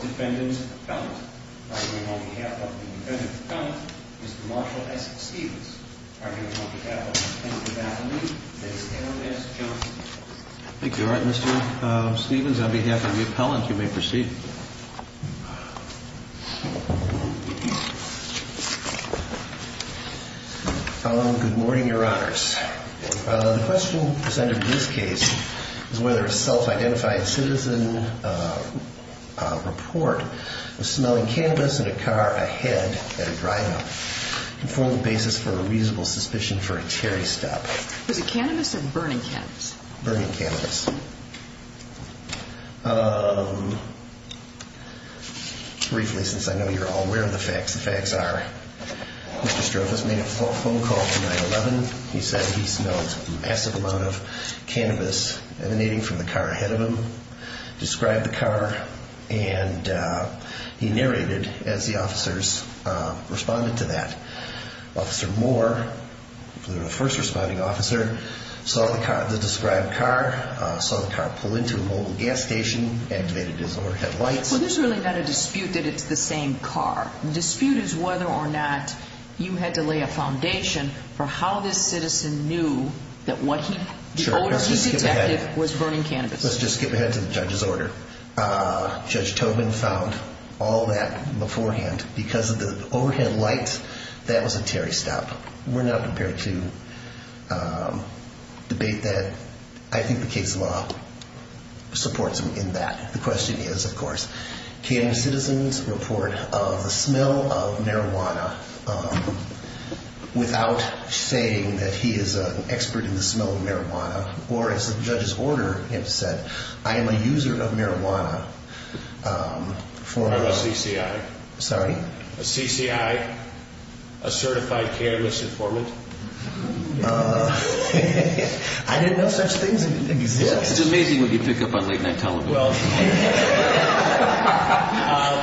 Defendant's Appellant, arguing on behalf of the Defendant's Appellant, Mr. Marshall S. Stevens, arguing on behalf of the Defendant's Appellant, Ms. Erin S. Johnson. I think you're right, Mr. Stevens. On behalf of the Appellant, you may proceed. Good morning, Your Honors. The question presented in this case is whether a self-identified citizen report of smelling cannabis in a car ahead at a drive-in can form the basis for a reasonable suspicion for a Terry stub. Was it cannabis or burning cannabis? Burning cannabis. Briefly, since I know you're all aware of the facts, the facts are Mr. Stroph has made a phone call to 9-11. He said he smelled a massive amount of cannabis emanating from the car ahead of him, described the car, and he narrated as the officers responded to that. Officer Moore, the first responding officer, saw the described car, saw the car pull into a mobile gas station, activated his overhead lights. So there's really not a dispute that it's the same car. The dispute is whether or not you had to lay a foundation for how this citizen knew that the odor he detected was burning cannabis. Let's just skip ahead to the judge's order. Judge Tobin found all that beforehand. Because of the overhead lights, that was a Terry stub. We're not prepared to debate that. I think the case law supports him in that. The question is, of course, can a citizen's report of the smell of marijuana without saying that he is an expert in the smell of marijuana, or as the judge's order had said, I am a user of marijuana. I'm a CCI. Sorry? A CCI, a certified cannabis informant. I didn't know such things existed. It's amazing what you pick up on late night television.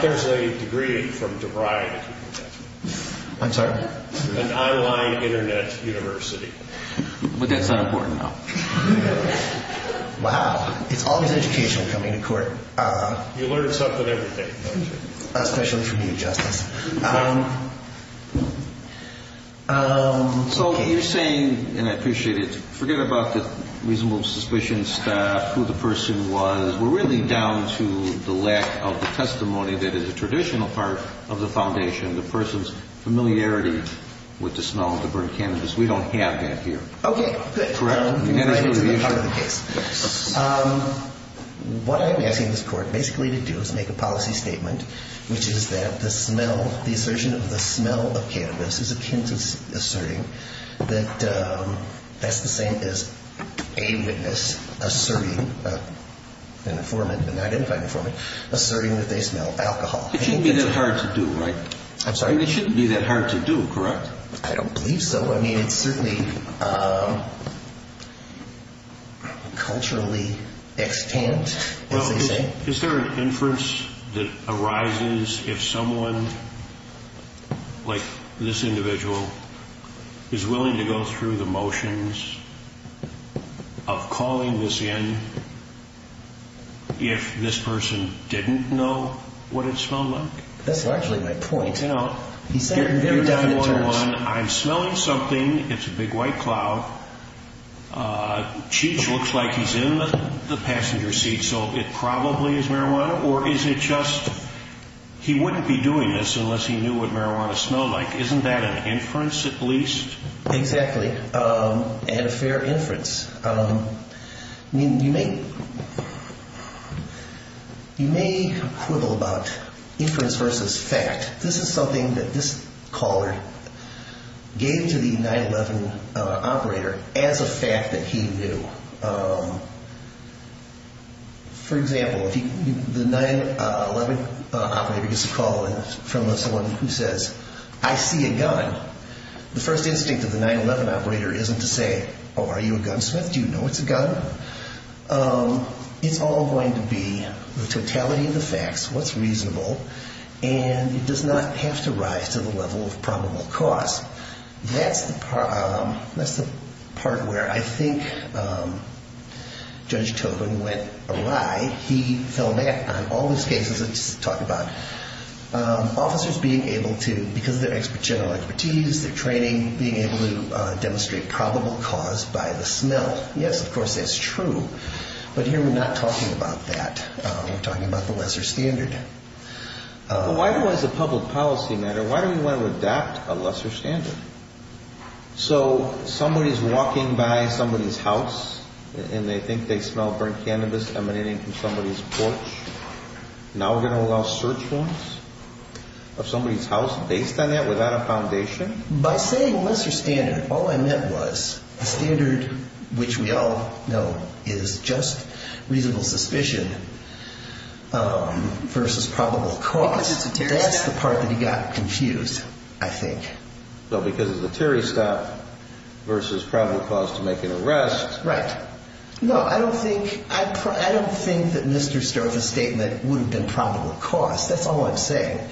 There's a degree from DeVry. I'm sorry? An online internet university. But that's not important now. Wow. It's always educational coming to court. You learn something every day, don't you? Especially from you, Justice. So you're saying, and I appreciate it, forget about the reasonable suspicion stuff, who the person was, we're really down to the lack of the testimony that is a traditional part of the foundation, the person's familiarity with the smell of the burned cannabis. We don't have that here. Okay. Correct? It's a good part of the case. What I'm asking this court basically to do is make a policy statement, which is that the smell, the assertion of the smell of cannabis is akin to asserting that that's the same as a witness asserting, an informant, an identified informant, asserting that they smell alcohol. It shouldn't be that hard to do, right? I'm sorry? It shouldn't be that hard to do, correct? I don't believe so. I mean, it's certainly culturally extant, as they say. Is there an inference that arises if someone like this individual is willing to go through the motions of calling this in if this person didn't know what it smelled like? That's actually my point. He's saying it in very definite terms. I'm smelling marijuana. I'm smelling something. It's a big white cloud. Cheech looks like he's in the passenger seat, so it probably is marijuana. Or is it just he wouldn't be doing this unless he knew what marijuana smelled like? Isn't that an inference at least? Exactly. And a fair inference. You may quibble about inference versus fact. This is something that this caller gave to the 911 operator as a fact that he knew. For example, the 911 operator gets a call from someone who says, I see a gun. The first instinct of the 911 operator isn't to say, oh, are you a gunsmith? Do you know it's a gun? It's all going to be the totality of the facts, what's reasonable, and it does not have to rise to the level of probable cause. That's the part where I think Judge Tobin went awry. He fell back on all these cases that he's talking about. Officers being able to, because of their expertise, their training, being able to demonstrate probable cause by the smell. Yes, of course, that's true. But here we're not talking about that. We're talking about the lesser standard. Why do we as a public policy matter, why do we want to adapt a lesser standard? So somebody's walking by somebody's house and they think they smell burnt cannabis emanating from somebody's porch. Now we're going to allow search warrants of somebody's house based on that without a foundation? By saying lesser standard, all I meant was the standard which we all know is just reasonable suspicion versus probable cause. That's the part that he got confused, I think. Because of the Terry stop versus probable cause to make an arrest. Right. No, I don't think that Mr. Sterve's statement would have been probable cause. That's all I'm saying.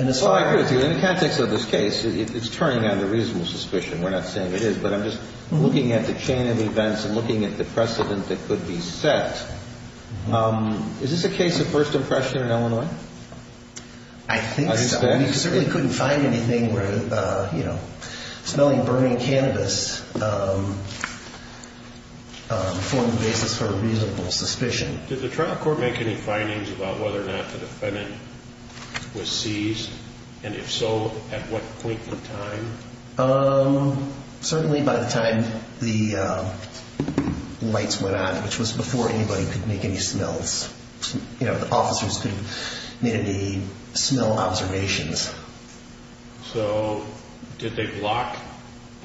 I agree with you. In the context of this case, it's turning out to be reasonable suspicion. We're not saying it is, but I'm just looking at the chain of events and looking at the precedent that could be set. Is this a case of first impression in Illinois? I think so. We certainly couldn't find anything where smelling burning cannabis formed the basis for reasonable suspicion. Did the trial court make any findings about whether or not the defendant was seized? And if so, at what point in time? Certainly by the time the lights went on, which was before anybody could make any smells. The officers could have made any smell observations. So did they block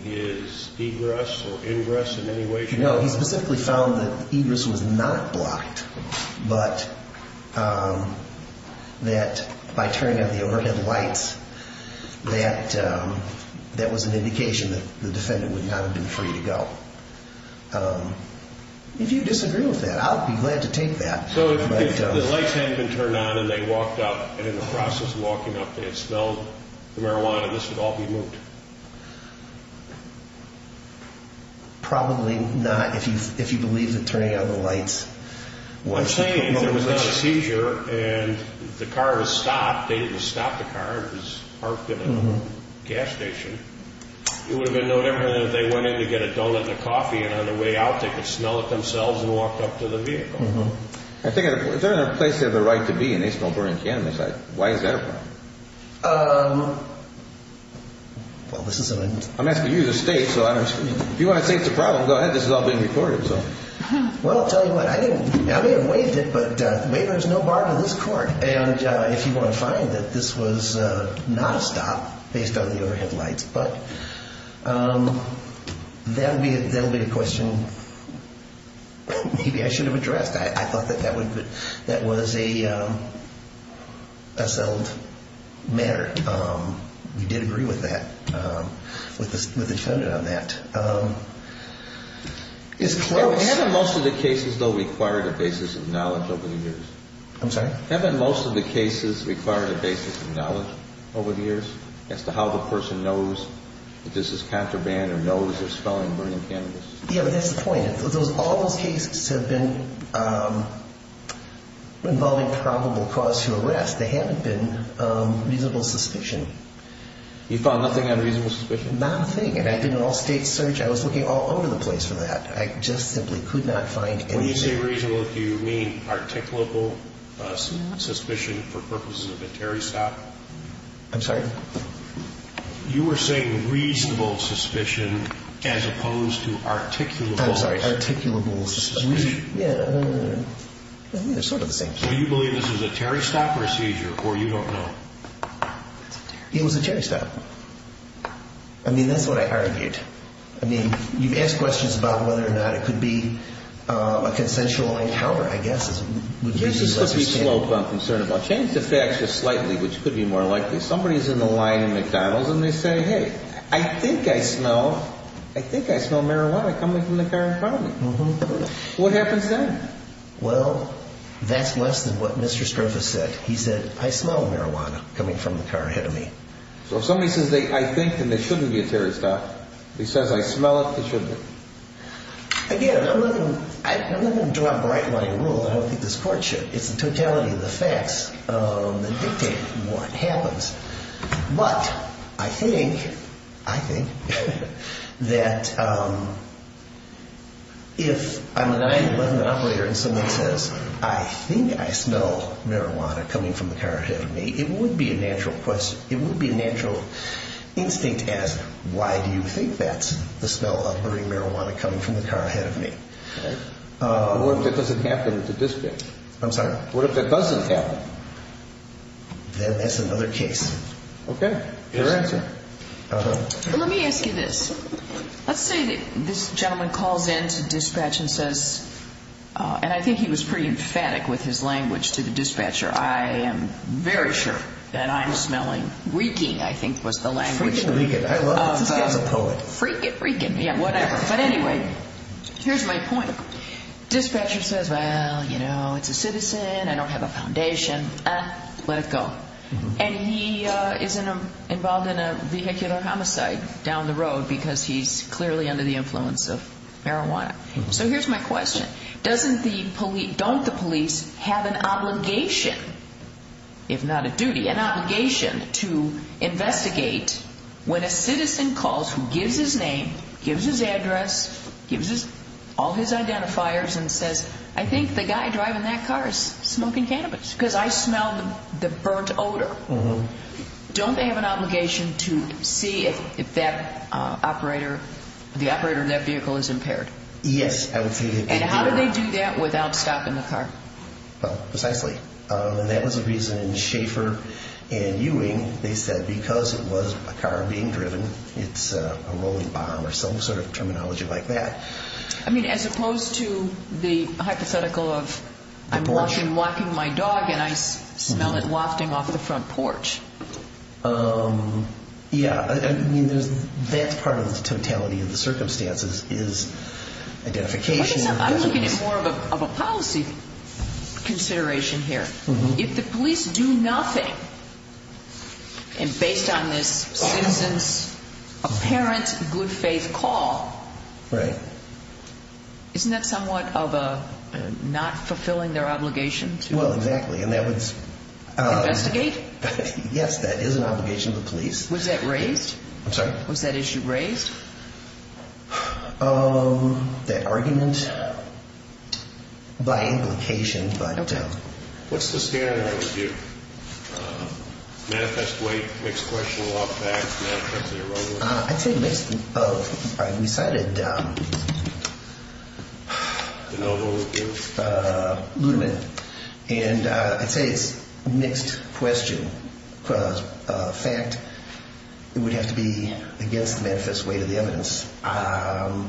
his egress or ingress in any way? No, he specifically found that egress was not blocked, but that by turning out the overhead lights, that was an indication that the defendant would not have been free to go. If you disagree with that, I'll be glad to take that. So if the lights hadn't been turned on and they walked out, and in the process of walking up, they had smelled the marijuana, this would all be moved? Probably not, if you believe that turning out the lights was the motive. I'm saying if there was not a seizure and the car was stopped, they didn't stop the car. It was parked at a gas station. It would have been no different if they went in to get a donut and a coffee, and on the way out they could smell it themselves and walk up to the vehicle. If they're in a place they have the right to be and they smell burning cannabis, why is that a problem? I'm asking you as a state, so if you want to say it's a problem, go ahead. This has all been recorded. Well, I'll tell you what, I may have waived it, but the waiver is no bar to this court. And if you want to find that this was not a stop based on the overhead lights, but that will be a question maybe I should have addressed. I thought that that was a settled matter. We did agree with that, with the defendant on that. Haven't most of the cases, though, required a basis of knowledge over the years? I'm sorry? Haven't most of the cases required a basis of knowledge over the years as to how the person knows that this is contraband or knows they're smelling burning cannabis? Yeah, but that's the point. All those cases have been involving probable cause to arrest. They haven't been reasonable suspicion. You found nothing on reasonable suspicion? Nothing. I did an all-state search. I was looking all over the place for that. I just simply could not find anything. When you say reasonable, do you mean articulable suspicion for purposes of a Terry stop? I'm sorry? You were saying reasonable suspicion as opposed to articulable. I'm sorry, articulable suspicion. Yeah. They're sort of the same thing. So you believe this is a Terry stop procedure or you don't know? It was a Terry stop. I mean, that's what I argued. I mean, you've asked questions about whether or not it could be a consensual encounter, I guess. There's a slippery slope I'm concerned about. Change the facts just slightly, which could be more likely. Somebody's in the line at McDonald's and they say, Hey, I think I smell marijuana coming from the car in front of me. What happens then? Well, that's less than what Mr. Strenfus said. He said, I smell marijuana coming from the car ahead of me. So if somebody says, I think, then there shouldn't be a Terry stop. If he says, I smell it, there shouldn't be. Again, I'm not going to drop bright line rule. I don't think this court should. It's the totality of the facts that dictate what happens. But I think that if I'm a 911 operator and someone says, I think I smell marijuana coming from the car ahead of me, it would be a natural question. It would be a natural instinct to ask, Why do you think that's the smell of burning marijuana coming from the car ahead of me? What if that doesn't happen at the dispatch? I'm sorry. What if that doesn't happen? Then that's another case. Okay. Your answer. Let me ask you this. Let's say that this gentleman calls in to dispatch and says, and I think he was pretty emphatic with his language to the dispatcher. I am very sure that I'm smelling reeking, I think was the language. Freak it. Freak it. Freak it. Yeah, whatever. But anyway, here's my point. Dispatcher says, well, you know, it's a citizen. I don't have a foundation. Let it go. And he is involved in a vehicular homicide down the road because he's clearly under the influence of marijuana. So here's my question. Doesn't the police, don't the police have an obligation, if not a duty, an obligation to investigate when a citizen calls who gives his name, gives his address, gives all his identifiers and says, I think the guy driving that car is smoking cannabis because I smell the burnt odor. Don't they have an obligation to see if that operator, the operator of that vehicle is impaired? Yes. And how do they do that without stopping the car? Well, precisely. And that was the reason Schaefer and Ewing, they said because it was a car being driven, it's a rolling bomb or some sort of terminology like that. I mean, as opposed to the hypothetical of I'm walking my dog and I smell it wafting off the front porch. Yeah. I mean, that's part of the totality of the circumstances is identification. I'm looking at more of a policy consideration here. If the police do nothing and based on this citizen's apparent good faith call. Right. Isn't that somewhat of a not fulfilling their obligation? Well, exactly. Investigate? Yes, that is an obligation of the police. Was that raised? I'm sorry? Was that issue raised? That argument by implication, but. I don't know. What's the standard review? Manifest weight, mixed question, law of facts, manifestly or wrongly? I'd say mixed. All right. We decided. And I'd say it's mixed question. Cause fact, it would have to be against the manifest way to the evidence. I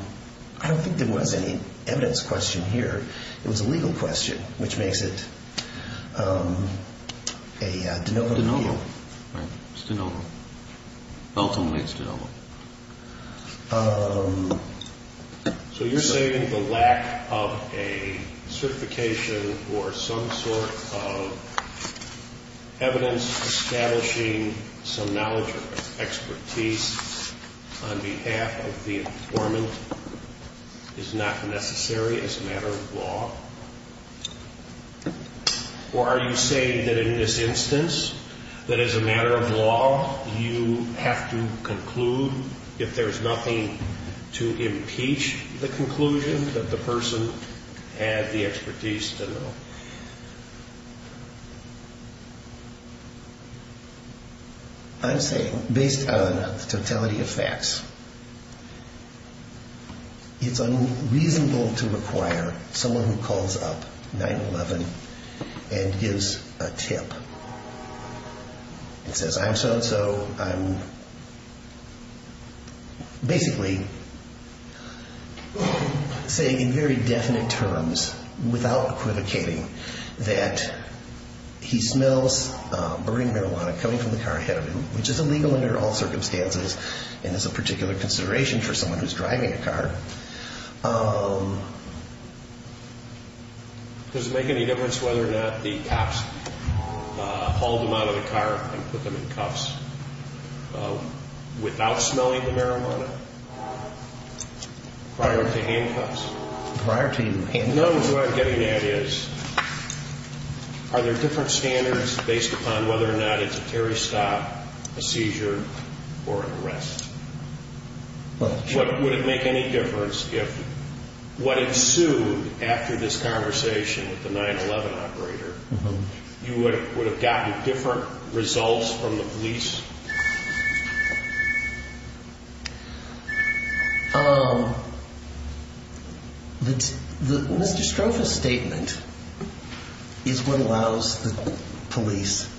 don't think there was any evidence question here. It was a legal question, which makes it. Okay. No, no, no, no. Ultimately it's. So you're saying the lack of a certification or some sort of. Evidence establishing some knowledge or expertise on behalf of the informant. Is not necessary as a matter of law. Or are you saying that in this instance, that as a matter of law, you have to conclude if there's nothing to impeach the conclusion that the person had the expertise to know. I'm saying based on the totality of facts. It's unreasonable to require someone who calls up nine 11 and gives a tip. It says I'm so-and-so I'm. Basically. Say in very definite terms without equivocating that. He smells burning marijuana coming from the car ahead of him, which is illegal under all circumstances. And as a particular consideration for someone who's driving a car. Does it make any difference whether or not the cops hauled him out of the car and put them in cuffs. Without smelling the marijuana. Prior to handcuffs. Prior to. Getting that is. Are there different standards based upon whether or not it's a Terry stop a seizure or an arrest. Would it make any difference if what ensued after this conversation with the nine 11 operator. You would have gotten different results from the police. The Mr. Stroph is statement. Is what allows the police.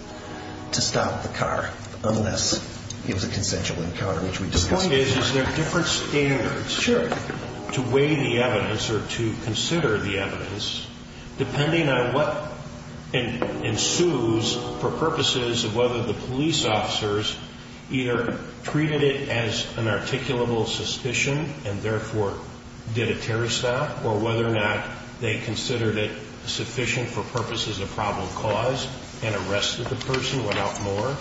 To stop the car. Unless it was a consensual encounter, which we just want is there different standards. To weigh the evidence or to consider the evidence. Depending on what. And ensues for purposes of whether the police officers. Either treated it as an articulable suspicion and therefore did a Terry stop or whether or not they considered it sufficient for purposes of problem cause and arrested the person without more.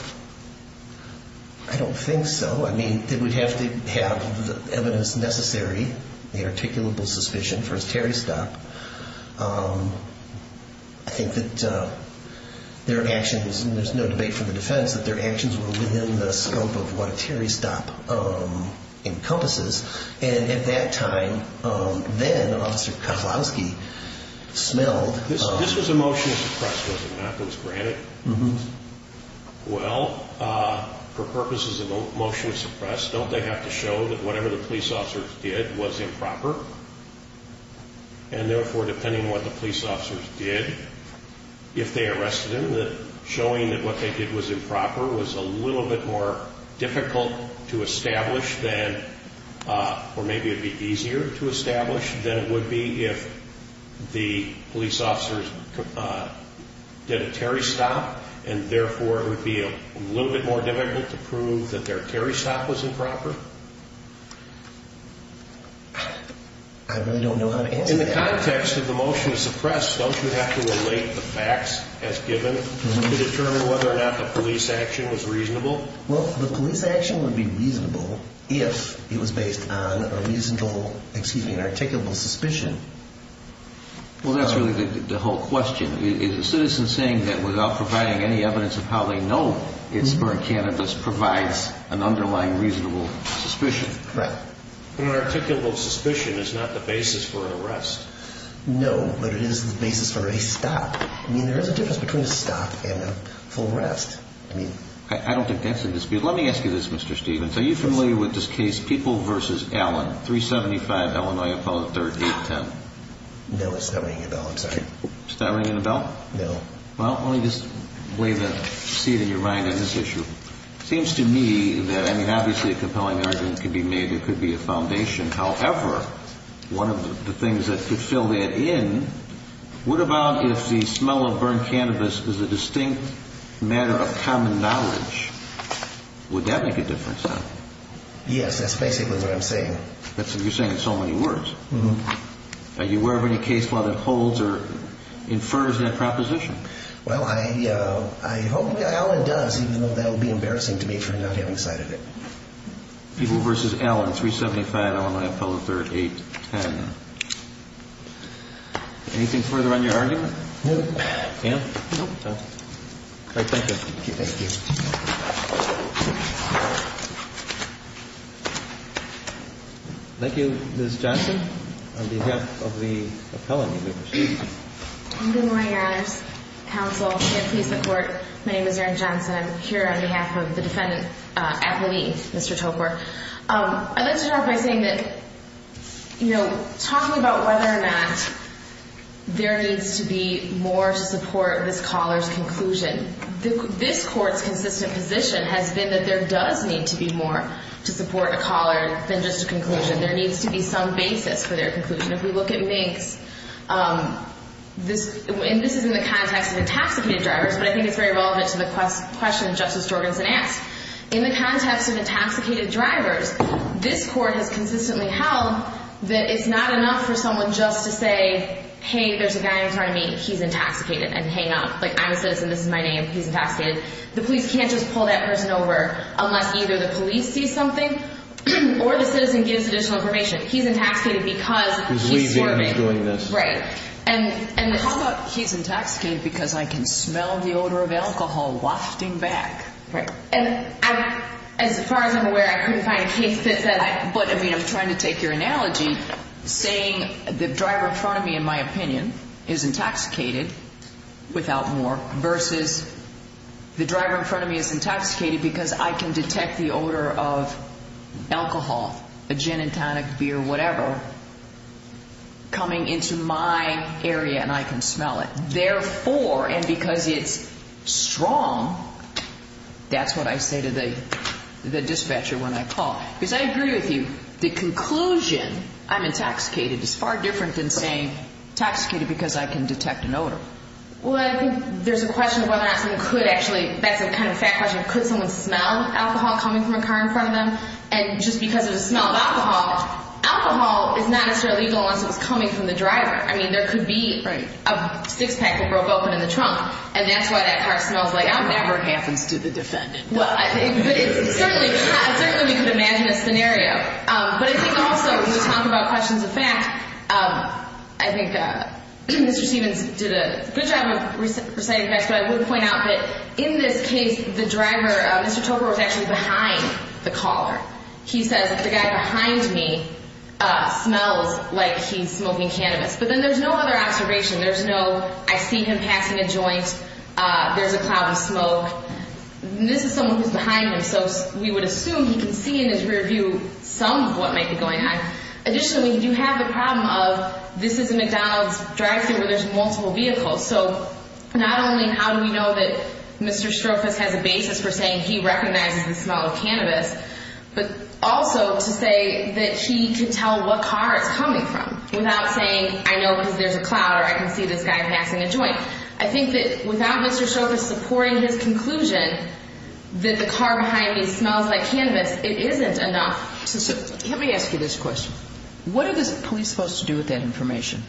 I don't think so. I mean, it would have to have the evidence necessary. The articulable suspicion for his Terry stop. I think that. Their actions. There's no debate for the defense that their actions were within the scope of what Terry stop. Encompasses. And at that time. Then officer. Smelled. This was a motion. Was granted. Well. For purposes of motion. Don't they have to show that whatever the police officers did was improper. And therefore, depending on what the police officers did. If they arrested him, that showing that what they did was improper was a little bit more difficult to establish, then. Or maybe it'd be easier to establish. Then it would be if. The police officers. Did a Terry stop. And therefore, it would be a little bit more difficult to prove that their Terry stop was improper. I really don't know how to answer that. In the context of the motion to suppress, don't you have to relate the facts as given to determine whether or not the police action was reasonable? Well, the police action would be reasonable if it was based on a reasonable excuse me, an articulable suspicion. Well, that's really the whole question. Is a citizen saying that without providing any evidence of how they know it's burnt cannabis provides an underlying reasonable suspicion? Right. But an articulable suspicion is not the basis for an arrest. No, but it is the basis for a stop. I mean, there is a difference between a stop and a full rest. I mean. I don't think that's in dispute. Let me ask you this, Mr. Stevens. Are you familiar with this case? People versus Allen. 375 Illinois Apollo 3010. No, it's not ringing a bell. I'm sorry. It's not ringing a bell? No. Well, let me just wave a seat in your mind on this issue. It seems to me that, I mean, obviously a compelling argument could be made. It could be a foundation. However, one of the things that could fill that in, what about if the smell of burnt cannabis is a distinct matter of common knowledge? Would that make a difference? Yes, that's basically what I'm saying. That's what you're saying in so many words. Are you aware of any case law that holds or infers that proposition? Well, I hope Allen does, even though that would be embarrassing to me for not having sight of it. People versus Allen. 375 Illinois Apollo 3010. Anything further on your argument? No. No? No. All right, thank you. Thank you. Thank you, Ms. Johnson. On behalf of the appellant. Good morning, Your Honor. Counsel, and please support. My name is Erin Johnson. I'm here on behalf of the defendant, Appleby, Mr. Topar. I'd like to start by saying that, you know, talking about whether or not there needs to be more support of this caller's conclusion, this court's consistent position has been that there does need to be more to support a caller than just a conclusion. There needs to be some basis for their conclusion. If we look at Minks, and this is in the context of intoxicated drivers, but I think it's very relevant to the question Justice Jorgensen asked. In the context of intoxicated drivers, this court has consistently held that it's not enough for someone just to say, hey, there's a guy in front of me, he's intoxicated, and hang up. Like, I'm a citizen, this is my name, he's intoxicated. The police can't just pull that person over unless either the police see something or the citizen gives additional information. He's intoxicated because he's swerving. He's leaving, he's doing this. Right. How about he's intoxicated because I can smell the odor of alcohol wafting back? Right. And as far as I'm aware, I couldn't find a case that says that. But, I mean, I'm trying to take your analogy, saying the driver in front of me, in my opinion, is intoxicated without more, versus the driver in front of me is intoxicated because I can detect the odor of alcohol, a gin and tonic, beer, whatever, coming into my area and I can smell it. Therefore, and because it's strong, that's what I say to the dispatcher when I call. Because I agree with you, the conclusion, I'm intoxicated, is far different than saying, intoxicated because I can detect an odor. Well, I think there's a question of whether or not someone could actually, that's a kind of fact question, could someone smell alcohol coming from a car in front of them? And just because of the smell of alcohol, alcohol is not necessarily legal unless it was coming from the driver. I mean, there could be a six-pack that broke open in the trunk, and that's why that car smells like alcohol. That never happens to the defendant. Well, certainly we could imagine a scenario. But I think also when we talk about questions of fact, I think Mr. Stevens did a good job of reciting facts, but I would point out that in this case, the driver, Mr. Topper, was actually behind the caller. He says, the guy behind me smells like he's smoking cannabis. But then there's no other observation. There's no, I see him passing a joint, there's a cloud of smoke. This is someone who's behind him, so we would assume he can see in his rear view some of what might be going on. Additionally, you have the problem of this is a McDonald's drive-thru where there's multiple vehicles. So not only how do we know that Mr. Strophus has a basis for saying he recognizes the smell of cannabis, but also to say that he could tell what car it's coming from without saying, I know because there's a cloud or I can see this guy passing a joint. I think that without Mr. Strophus supporting his conclusion that the car behind me smells like cannabis, it isn't enough. So let me ask you this question. What are the police supposed to do with that information?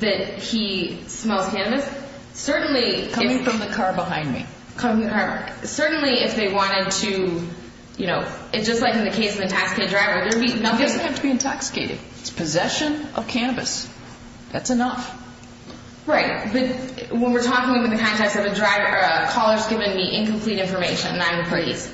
That he smells cannabis? Coming from the car behind me. Certainly if they wanted to, you know, it's just like in the case of the intoxicated driver. He doesn't have to be intoxicated. It's possession of cannabis. That's enough. Right. But when we're talking in the context of a driver, a caller's giving me incomplete information and I'm the police.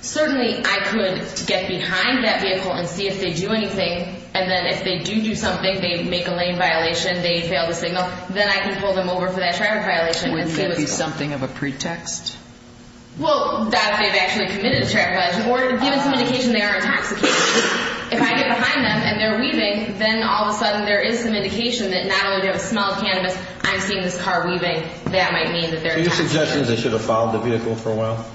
Certainly I could get behind that vehicle and see if they do anything. And then if they do do something, they make a lane violation, they fail the signal, then I can pull them over for that traffic violation. Would it be something of a pretext? Well, that they've actually committed a traffic violation or given some indication they are intoxicated. If I get behind them and they're weaving, then all of a sudden there is some indication that not only do I smell cannabis, I'm seeing this car weaving. That might mean that they're intoxicated. Are you suggesting they should have followed the vehicle for a while?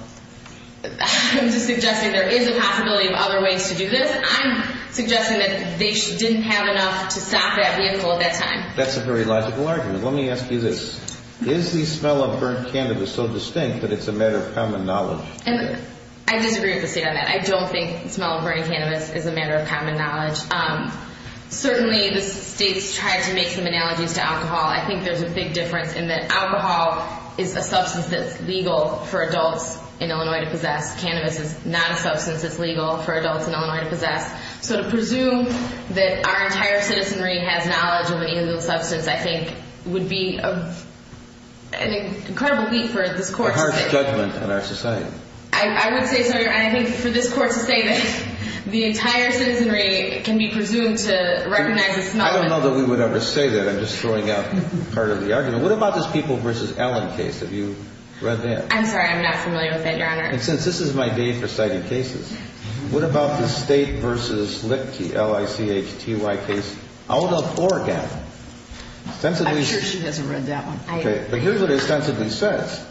I'm just suggesting there is a possibility of other ways to do this. I'm suggesting that they didn't have enough to stop that vehicle at that time. That's a very logical argument. Let me ask you this. Is the smell of burnt cannabis so distinct that it's a matter of common knowledge? I disagree with the state on that. I don't think the smell of burnt cannabis is a matter of common knowledge. Certainly the states try to make some analogies to alcohol. I think there's a big difference in that alcohol is a substance that's legal for adults in Illinois to possess. Cannabis is not a substance that's legal for adults in Illinois to possess. So to presume that our entire citizenry has knowledge of an illegal substance, I think, would be an incredible leap for this court to take. A harsh judgment on our society. I would say so, Your Honor. And I think for this court to say that the entire citizenry can be presumed to recognize the smell of it. I don't know that we would ever say that. I'm just throwing out part of the argument. What about this People v. Allen case? Have you read that? I'm sorry. I'm not familiar with that, Your Honor. And since this is my day for citing cases, what about the State v. Lipke, L-I-C-H-T-Y case out of Oregon? I'm sure she hasn't read that one. Okay. But here's what it ostensibly says.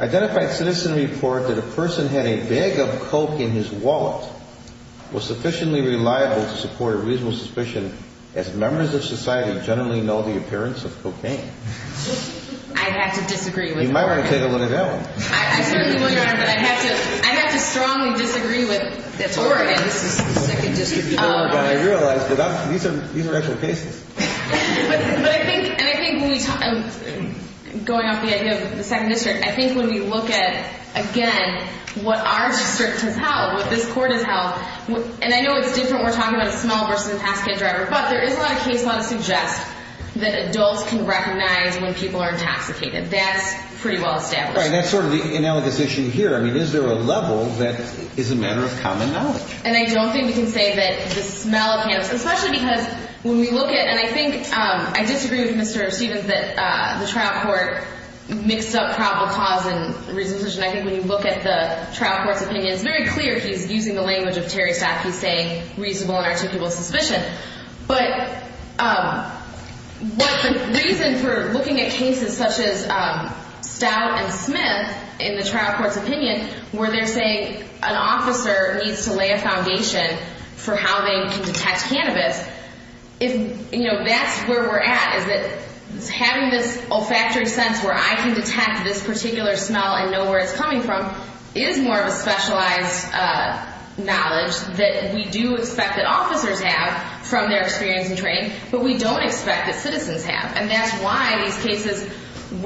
Identified citizen report that a person had a bag of coke in his wallet was sufficiently reliable to support a reasonable suspicion as members of society generally know the appearance of cocaine. I'd have to disagree with that. You might want to take a look at that one. I certainly will, Your Honor, but I'd have to strongly disagree with that Oregon. This is the Second District of Oregon. I realize that these are actual cases. But I think when we talk about going off the idea of the Second District, I think when we look at, again, what our district has held, what this court has held, and I know it's different when we're talking about a small v. a pass kid driver, but there is a lot of case law that suggests that adults can recognize when people are intoxicated. That's pretty well established. Right. That's sort of the analogous issue here. I mean, is there a level that is a matter of common knowledge? And I don't think we can say that the smell of cannabis, especially because when we look at it, and I think I disagree with Mr. Stevens that the trial court mixed up probable cause and reasonable suspicion. I think when you look at the trial court's opinion, it's very clear he's using the language of Terry Stout. He's saying reasonable and articulable suspicion. But what the reason for looking at cases such as Stout and Smith in the trial court's opinion where they're saying an officer needs to lay a foundation for how they can detect cannabis, that's where we're at is that having this olfactory sense where I can detect this particular smell and know where it's coming from is more of a specialized knowledge that we do expect that officers have from their experience and training, but we don't expect that citizens have. And that's why these cases,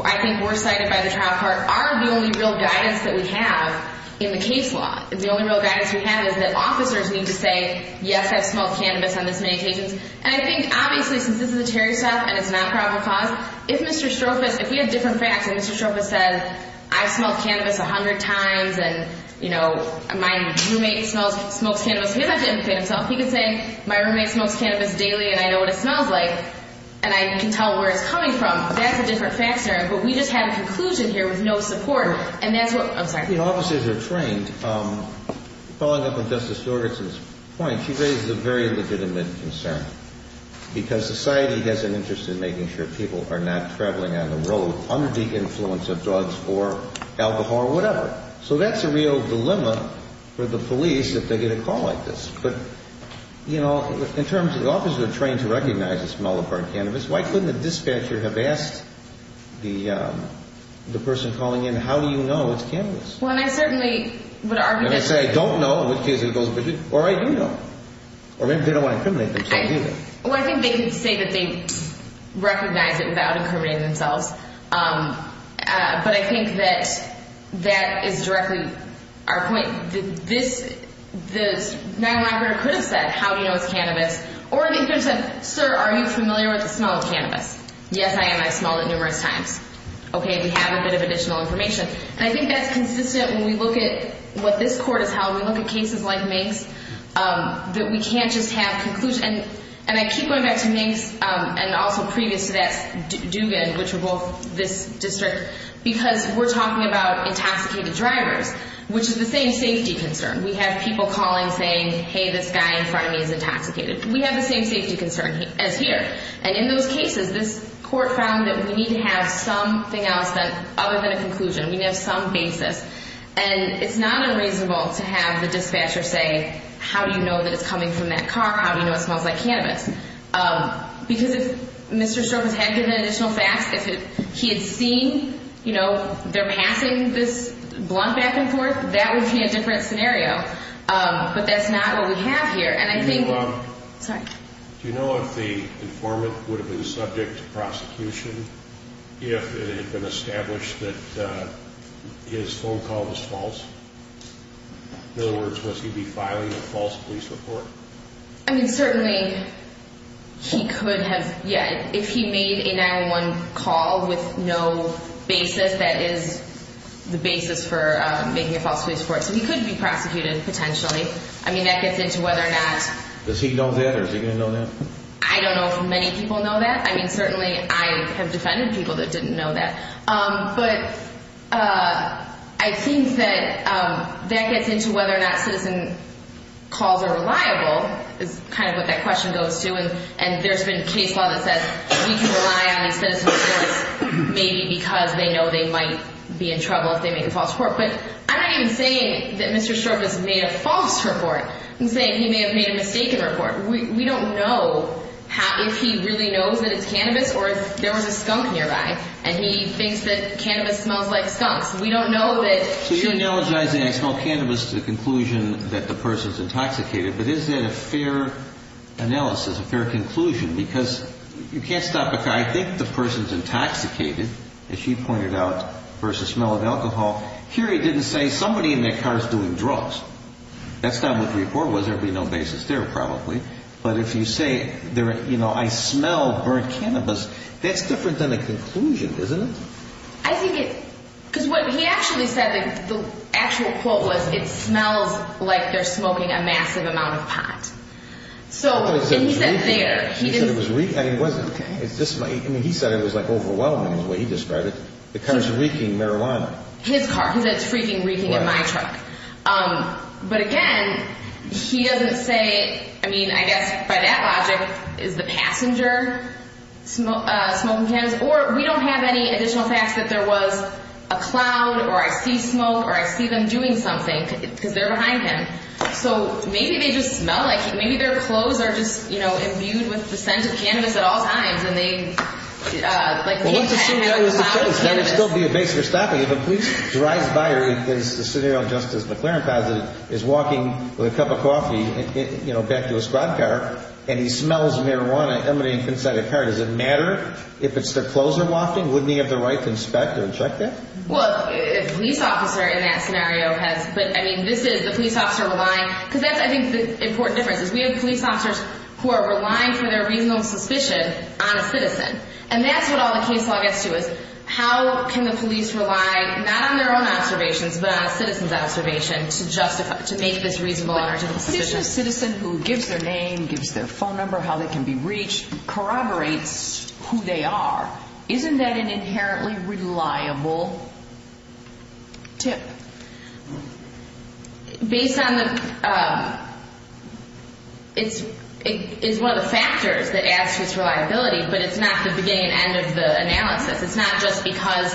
I think, were cited by the trial court, are the only real guidance that we have in the case law. The only real guidance we have is that officers need to say, yes, I've smelled cannabis on this many occasions. And I think, obviously, since this is a Terry Stout and it's not probable cause, if Mr. Stropas, if we had different facts and Mr. Stropas said, I've smelled cannabis 100 times and, you know, my roommate smokes cannabis, he would have to indicate himself. He could say, my roommate smokes cannabis daily and I know what it smells like and I can tell where it's coming from. That's a different factor. But we just have a conclusion here with no support. And that's what – I'm sorry. You know, officers are trained. Following up on Justice Jorgensen's point, she raises a very legitimate concern because society has an interest in making sure people are not traveling on the road under the influence of drugs or alcohol or whatever. So that's a real dilemma for the police if they get a call like this. But, you know, in terms of the officers are trained to recognize it's malaparte cannabis, why couldn't the dispatcher have asked the person calling in, how do you know it's cannabis? Well, and I certainly would argue – Let me say, I don't know in which case it goes. Or I do know. Or maybe they don't want to incriminate themselves either. Well, I think they can say that they recognize it without incriminating themselves. But I think that that is directly our point. This malaparte could have said, how do you know it's cannabis? Or they could have said, sir, are you familiar with the smell of cannabis? Yes, I am. I've smelled it numerous times. Okay, we have a bit of additional information. And I think that's consistent when we look at what this court has held. We look at cases like Mink's that we can't just have conclusions. And I keep going back to Mink's and also previous to that Dugan, which are both this district, because we're talking about intoxicated drivers, which is the same safety concern. We have people calling saying, hey, this guy in front of me is intoxicated. We have the same safety concern as here. And in those cases, this court found that we need to have something else other than a conclusion. We need to have some basis. And it's not unreasonable to have the dispatcher say, how do you know that it's coming from that car? How do you know it smells like cannabis? Because if Mr. Stropas had given additional facts, if he had seen, you know, they're passing this blunt back and forth, that would be a different scenario. But that's not what we have here. Do you know if the informant would have been subject to prosecution if it had been established that his phone call was false? In other words, was he be filing a false police report? I mean, certainly he could have. Yeah, if he made a 911 call with no basis, that is the basis for making a false police report. So he could be prosecuted, potentially. I mean, that gets into whether or not. Does he know that or is he going to know that? I don't know if many people know that. I mean, certainly I have defended people that didn't know that. But I think that that gets into whether or not citizen calls are reliable, is kind of what that question goes to. And there's been case law that says we can rely on these citizen reports maybe because they know they might be in trouble if they make a false report. But I'm not even saying that Mr. Stropas made a false report. I'm saying he may have made a mistaken report. We don't know if he really knows that it's cannabis or if there was a skunk nearby. And he thinks that cannabis smells like skunks. We don't know that. So you're analogizing I smell cannabis to the conclusion that the person is intoxicated. But is that a fair analysis, a fair conclusion? Because you can't stop a car. I think the person is intoxicated, as she pointed out, versus the smell of alcohol. Here he didn't say somebody in their car is doing drugs. That's not what the report was. There would be no basis there probably. But if you say, you know, I smell burnt cannabis, that's different than a conclusion, isn't it? I think it's because what he actually said, the actual quote was, it smells like they're smoking a massive amount of pot. And he said there. He said it was overwhelming the way he described it. The car is reeking marijuana. His car. He said it's freaking reeking in my truck. But again, he doesn't say, I mean, I guess by that logic, is the passenger smoking cannabis? Or we don't have any additional facts that there was a cloud or I see smoke or I see them doing something because they're behind him. So maybe they just smell like, maybe their clothes are just, you know, imbued with the scent of cannabis at all times. Well, let's assume that was the case. There would still be a basis for stopping. If a police drive by or if it's the scenario of Justice McLaren positive, is walking with a cup of coffee, you know, back to his squad car, and he smells marijuana emanating from inside the car. Does it matter if it's their clothes are wafting? Wouldn't he have the right to inspect or check that? Well, a police officer in that scenario has. But, I mean, this is the police officer relying. Because that's, I think, the important difference is we have police officers who are relying for their reasonable suspicion on a citizen. And that's what all the case law gets to is how can the police rely, not on their own observations, but on a citizen's observation to justify, to make this reasonable honor to the citizen. But if a citizen who gives their name, gives their phone number, how they can be reached, corroborates who they are, isn't that an inherently reliable tip? Based on the, it's one of the factors that adds to its reliability, but it's not the beginning and end of the analysis. It's not just because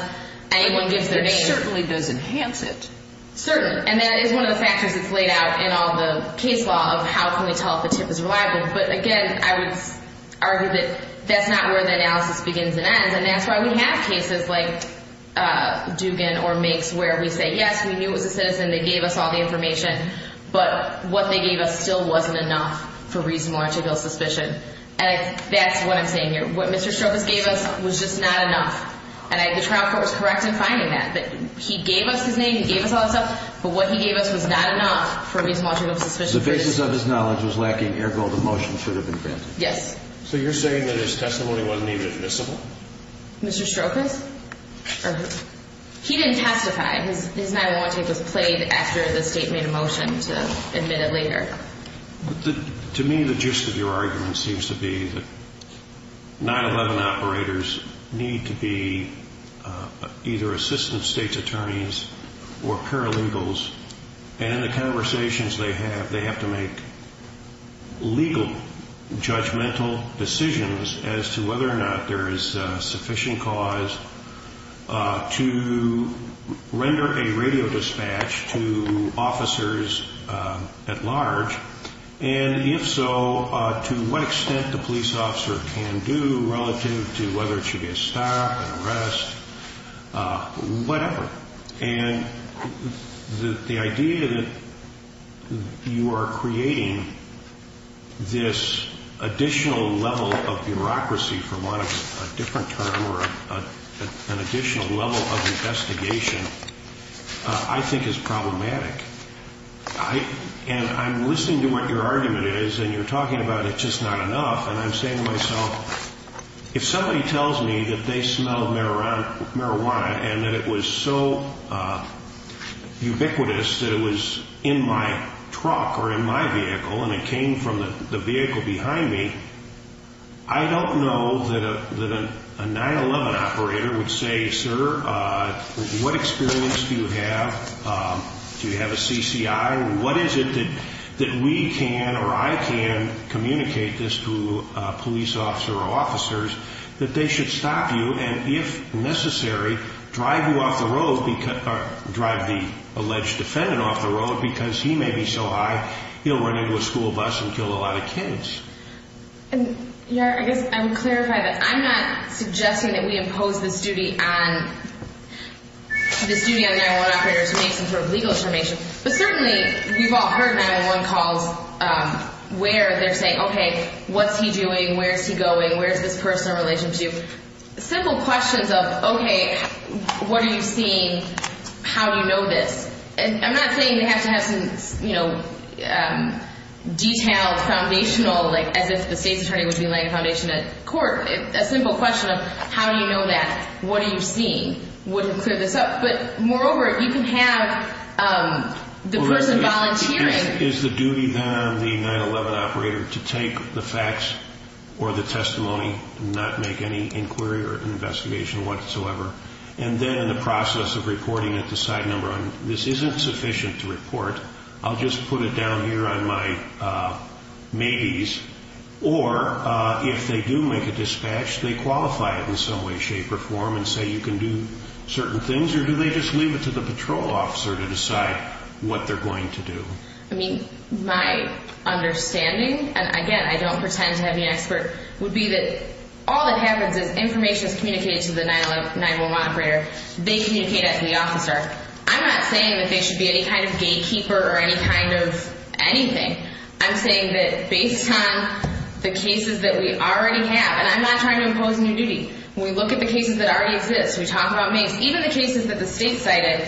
anyone gives their name. It certainly does enhance it. Certainly. And that is one of the factors that's laid out in all the case law of how can we tell if a tip is reliable. But, again, I would argue that that's not where the analysis begins and ends. And that's why we have cases like Dugan or makes where we say, yes, we knew it was a citizen. They gave us all the information. But what they gave us still wasn't enough for reasonable article of suspicion. And that's what I'm saying here. What Mr. Stropas gave us was just not enough. And the trial court was correct in finding that. He gave us his name. He gave us all that stuff. But what he gave us was not enough for reasonable article of suspicion. The basis of his knowledge was lacking, ergo the motion should have been granted. Yes. So you're saying that his testimony wasn't even admissible? Mr. Stropas? He didn't testify. His 9-1-1 tape was played after the state made a motion to admit it later. To me, the gist of your argument seems to be that 9-1-1 operators need to be either assistant state's attorneys or paralegals. And in the conversations they have, they have to make legal judgmental decisions as to whether or not there is sufficient cause to render a radio dispatch to officers at large, and if so, to what extent the police officer can do relative to whether it should be a stop, an arrest, whatever. And the idea that you are creating this additional level of bureaucracy, for want of a different term, or an additional level of investigation, I think is problematic. And I'm listening to what your argument is, and you're talking about it's just not enough, and I'm saying to myself, if somebody tells me that they smelled marijuana and that it was so ubiquitous that it was in my truck or in my vehicle and it came from the vehicle behind me, I don't know that a 9-1-1 operator would say, sir, what experience do you have? Do you have a CCI? What is it that we can or I can communicate this to police officers or officers that they should stop you and, if necessary, drive you off the road or drive the alleged defendant off the road because he may be so high he'll run into a school bus and kill a lot of kids? I guess I would clarify that I'm not suggesting that we impose this duty on the 9-1-1 operators who need some sort of legal information, but certainly we've all heard 9-1-1 calls where they're saying, okay, what's he doing, where's he going, where's this person in relation to you? Simple questions of, okay, what are you seeing, how do you know this? And I'm not saying they have to have some detailed foundational, like as if the state's attorney would be laying a foundation at court. A simple question of how do you know that, what are you seeing, would clear this up. But, moreover, you can have the person volunteering. Is the duty then on the 9-1-1 operator to take the facts or the testimony and not make any inquiry or investigation whatsoever? And then in the process of reporting at the side number, this isn't sufficient to report, I'll just put it down here on my maybes. Or, if they do make a dispatch, they qualify it in some way, shape, or form and say you can do certain things, or do they just leave it to the patrol officer to decide what they're going to do? I mean, my understanding, and again, I don't pretend to be an expert, would be that all that happens is information is communicated to the 9-1-1 operator. They communicate it to the officer. I'm not saying that they should be any kind of gatekeeper or any kind of anything. I'm saying that based on the cases that we already have, and I'm not trying to impose new duty. When we look at the cases that already exist, we talk about maybes, even the cases that the state cited,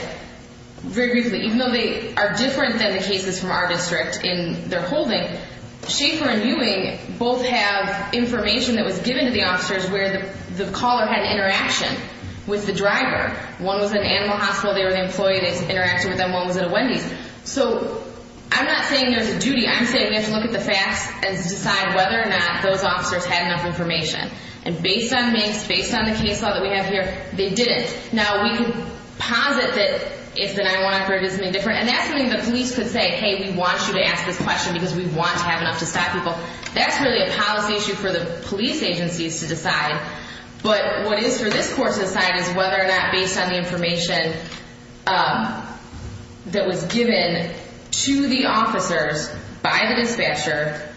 very briefly, even though they are different than the cases from our district in their holding, Schaefer and Ewing both have information that was given to the officers where the caller had an interaction with the driver. One was at an animal hospital. They were the employee that interacted with them. One was at a Wendy's. So I'm not saying there's a duty. I'm saying we have to look at the facts and decide whether or not those officers had enough information. And based on Maybes, based on the case law that we have here, they didn't. Now, we can posit that if the 911 operator did something different, and that's something the police could say, hey, we want you to ask this question because we want to have enough to stop people. That's really a policy issue for the police agencies to decide. But what is for this court to decide is whether or not, based on the information that was given to the officers by the dispatcher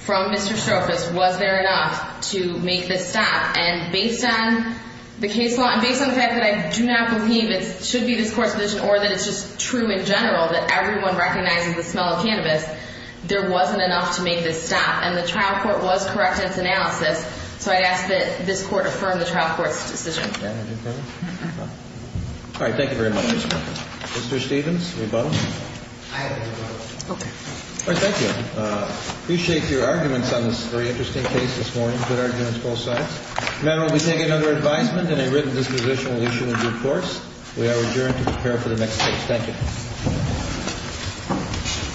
from Mr. Strophus, was there enough to make this stop. And based on the case law and based on the fact that I do not believe it should be this court's decision or that it's just true in general that everyone recognizes the smell of cannabis, there wasn't enough to make this stop. And the trial court was correct in its analysis, so I ask that this court affirm the trial court's decision. All right. Thank you very much. Mr. Stevens, do we vote? I vote. Okay. All right. Thank you. Appreciate your arguments on this very interesting case this morning. We take it under advisement and a written disposition will issue a due course. We are adjourned to prepare for the next case. Thank you.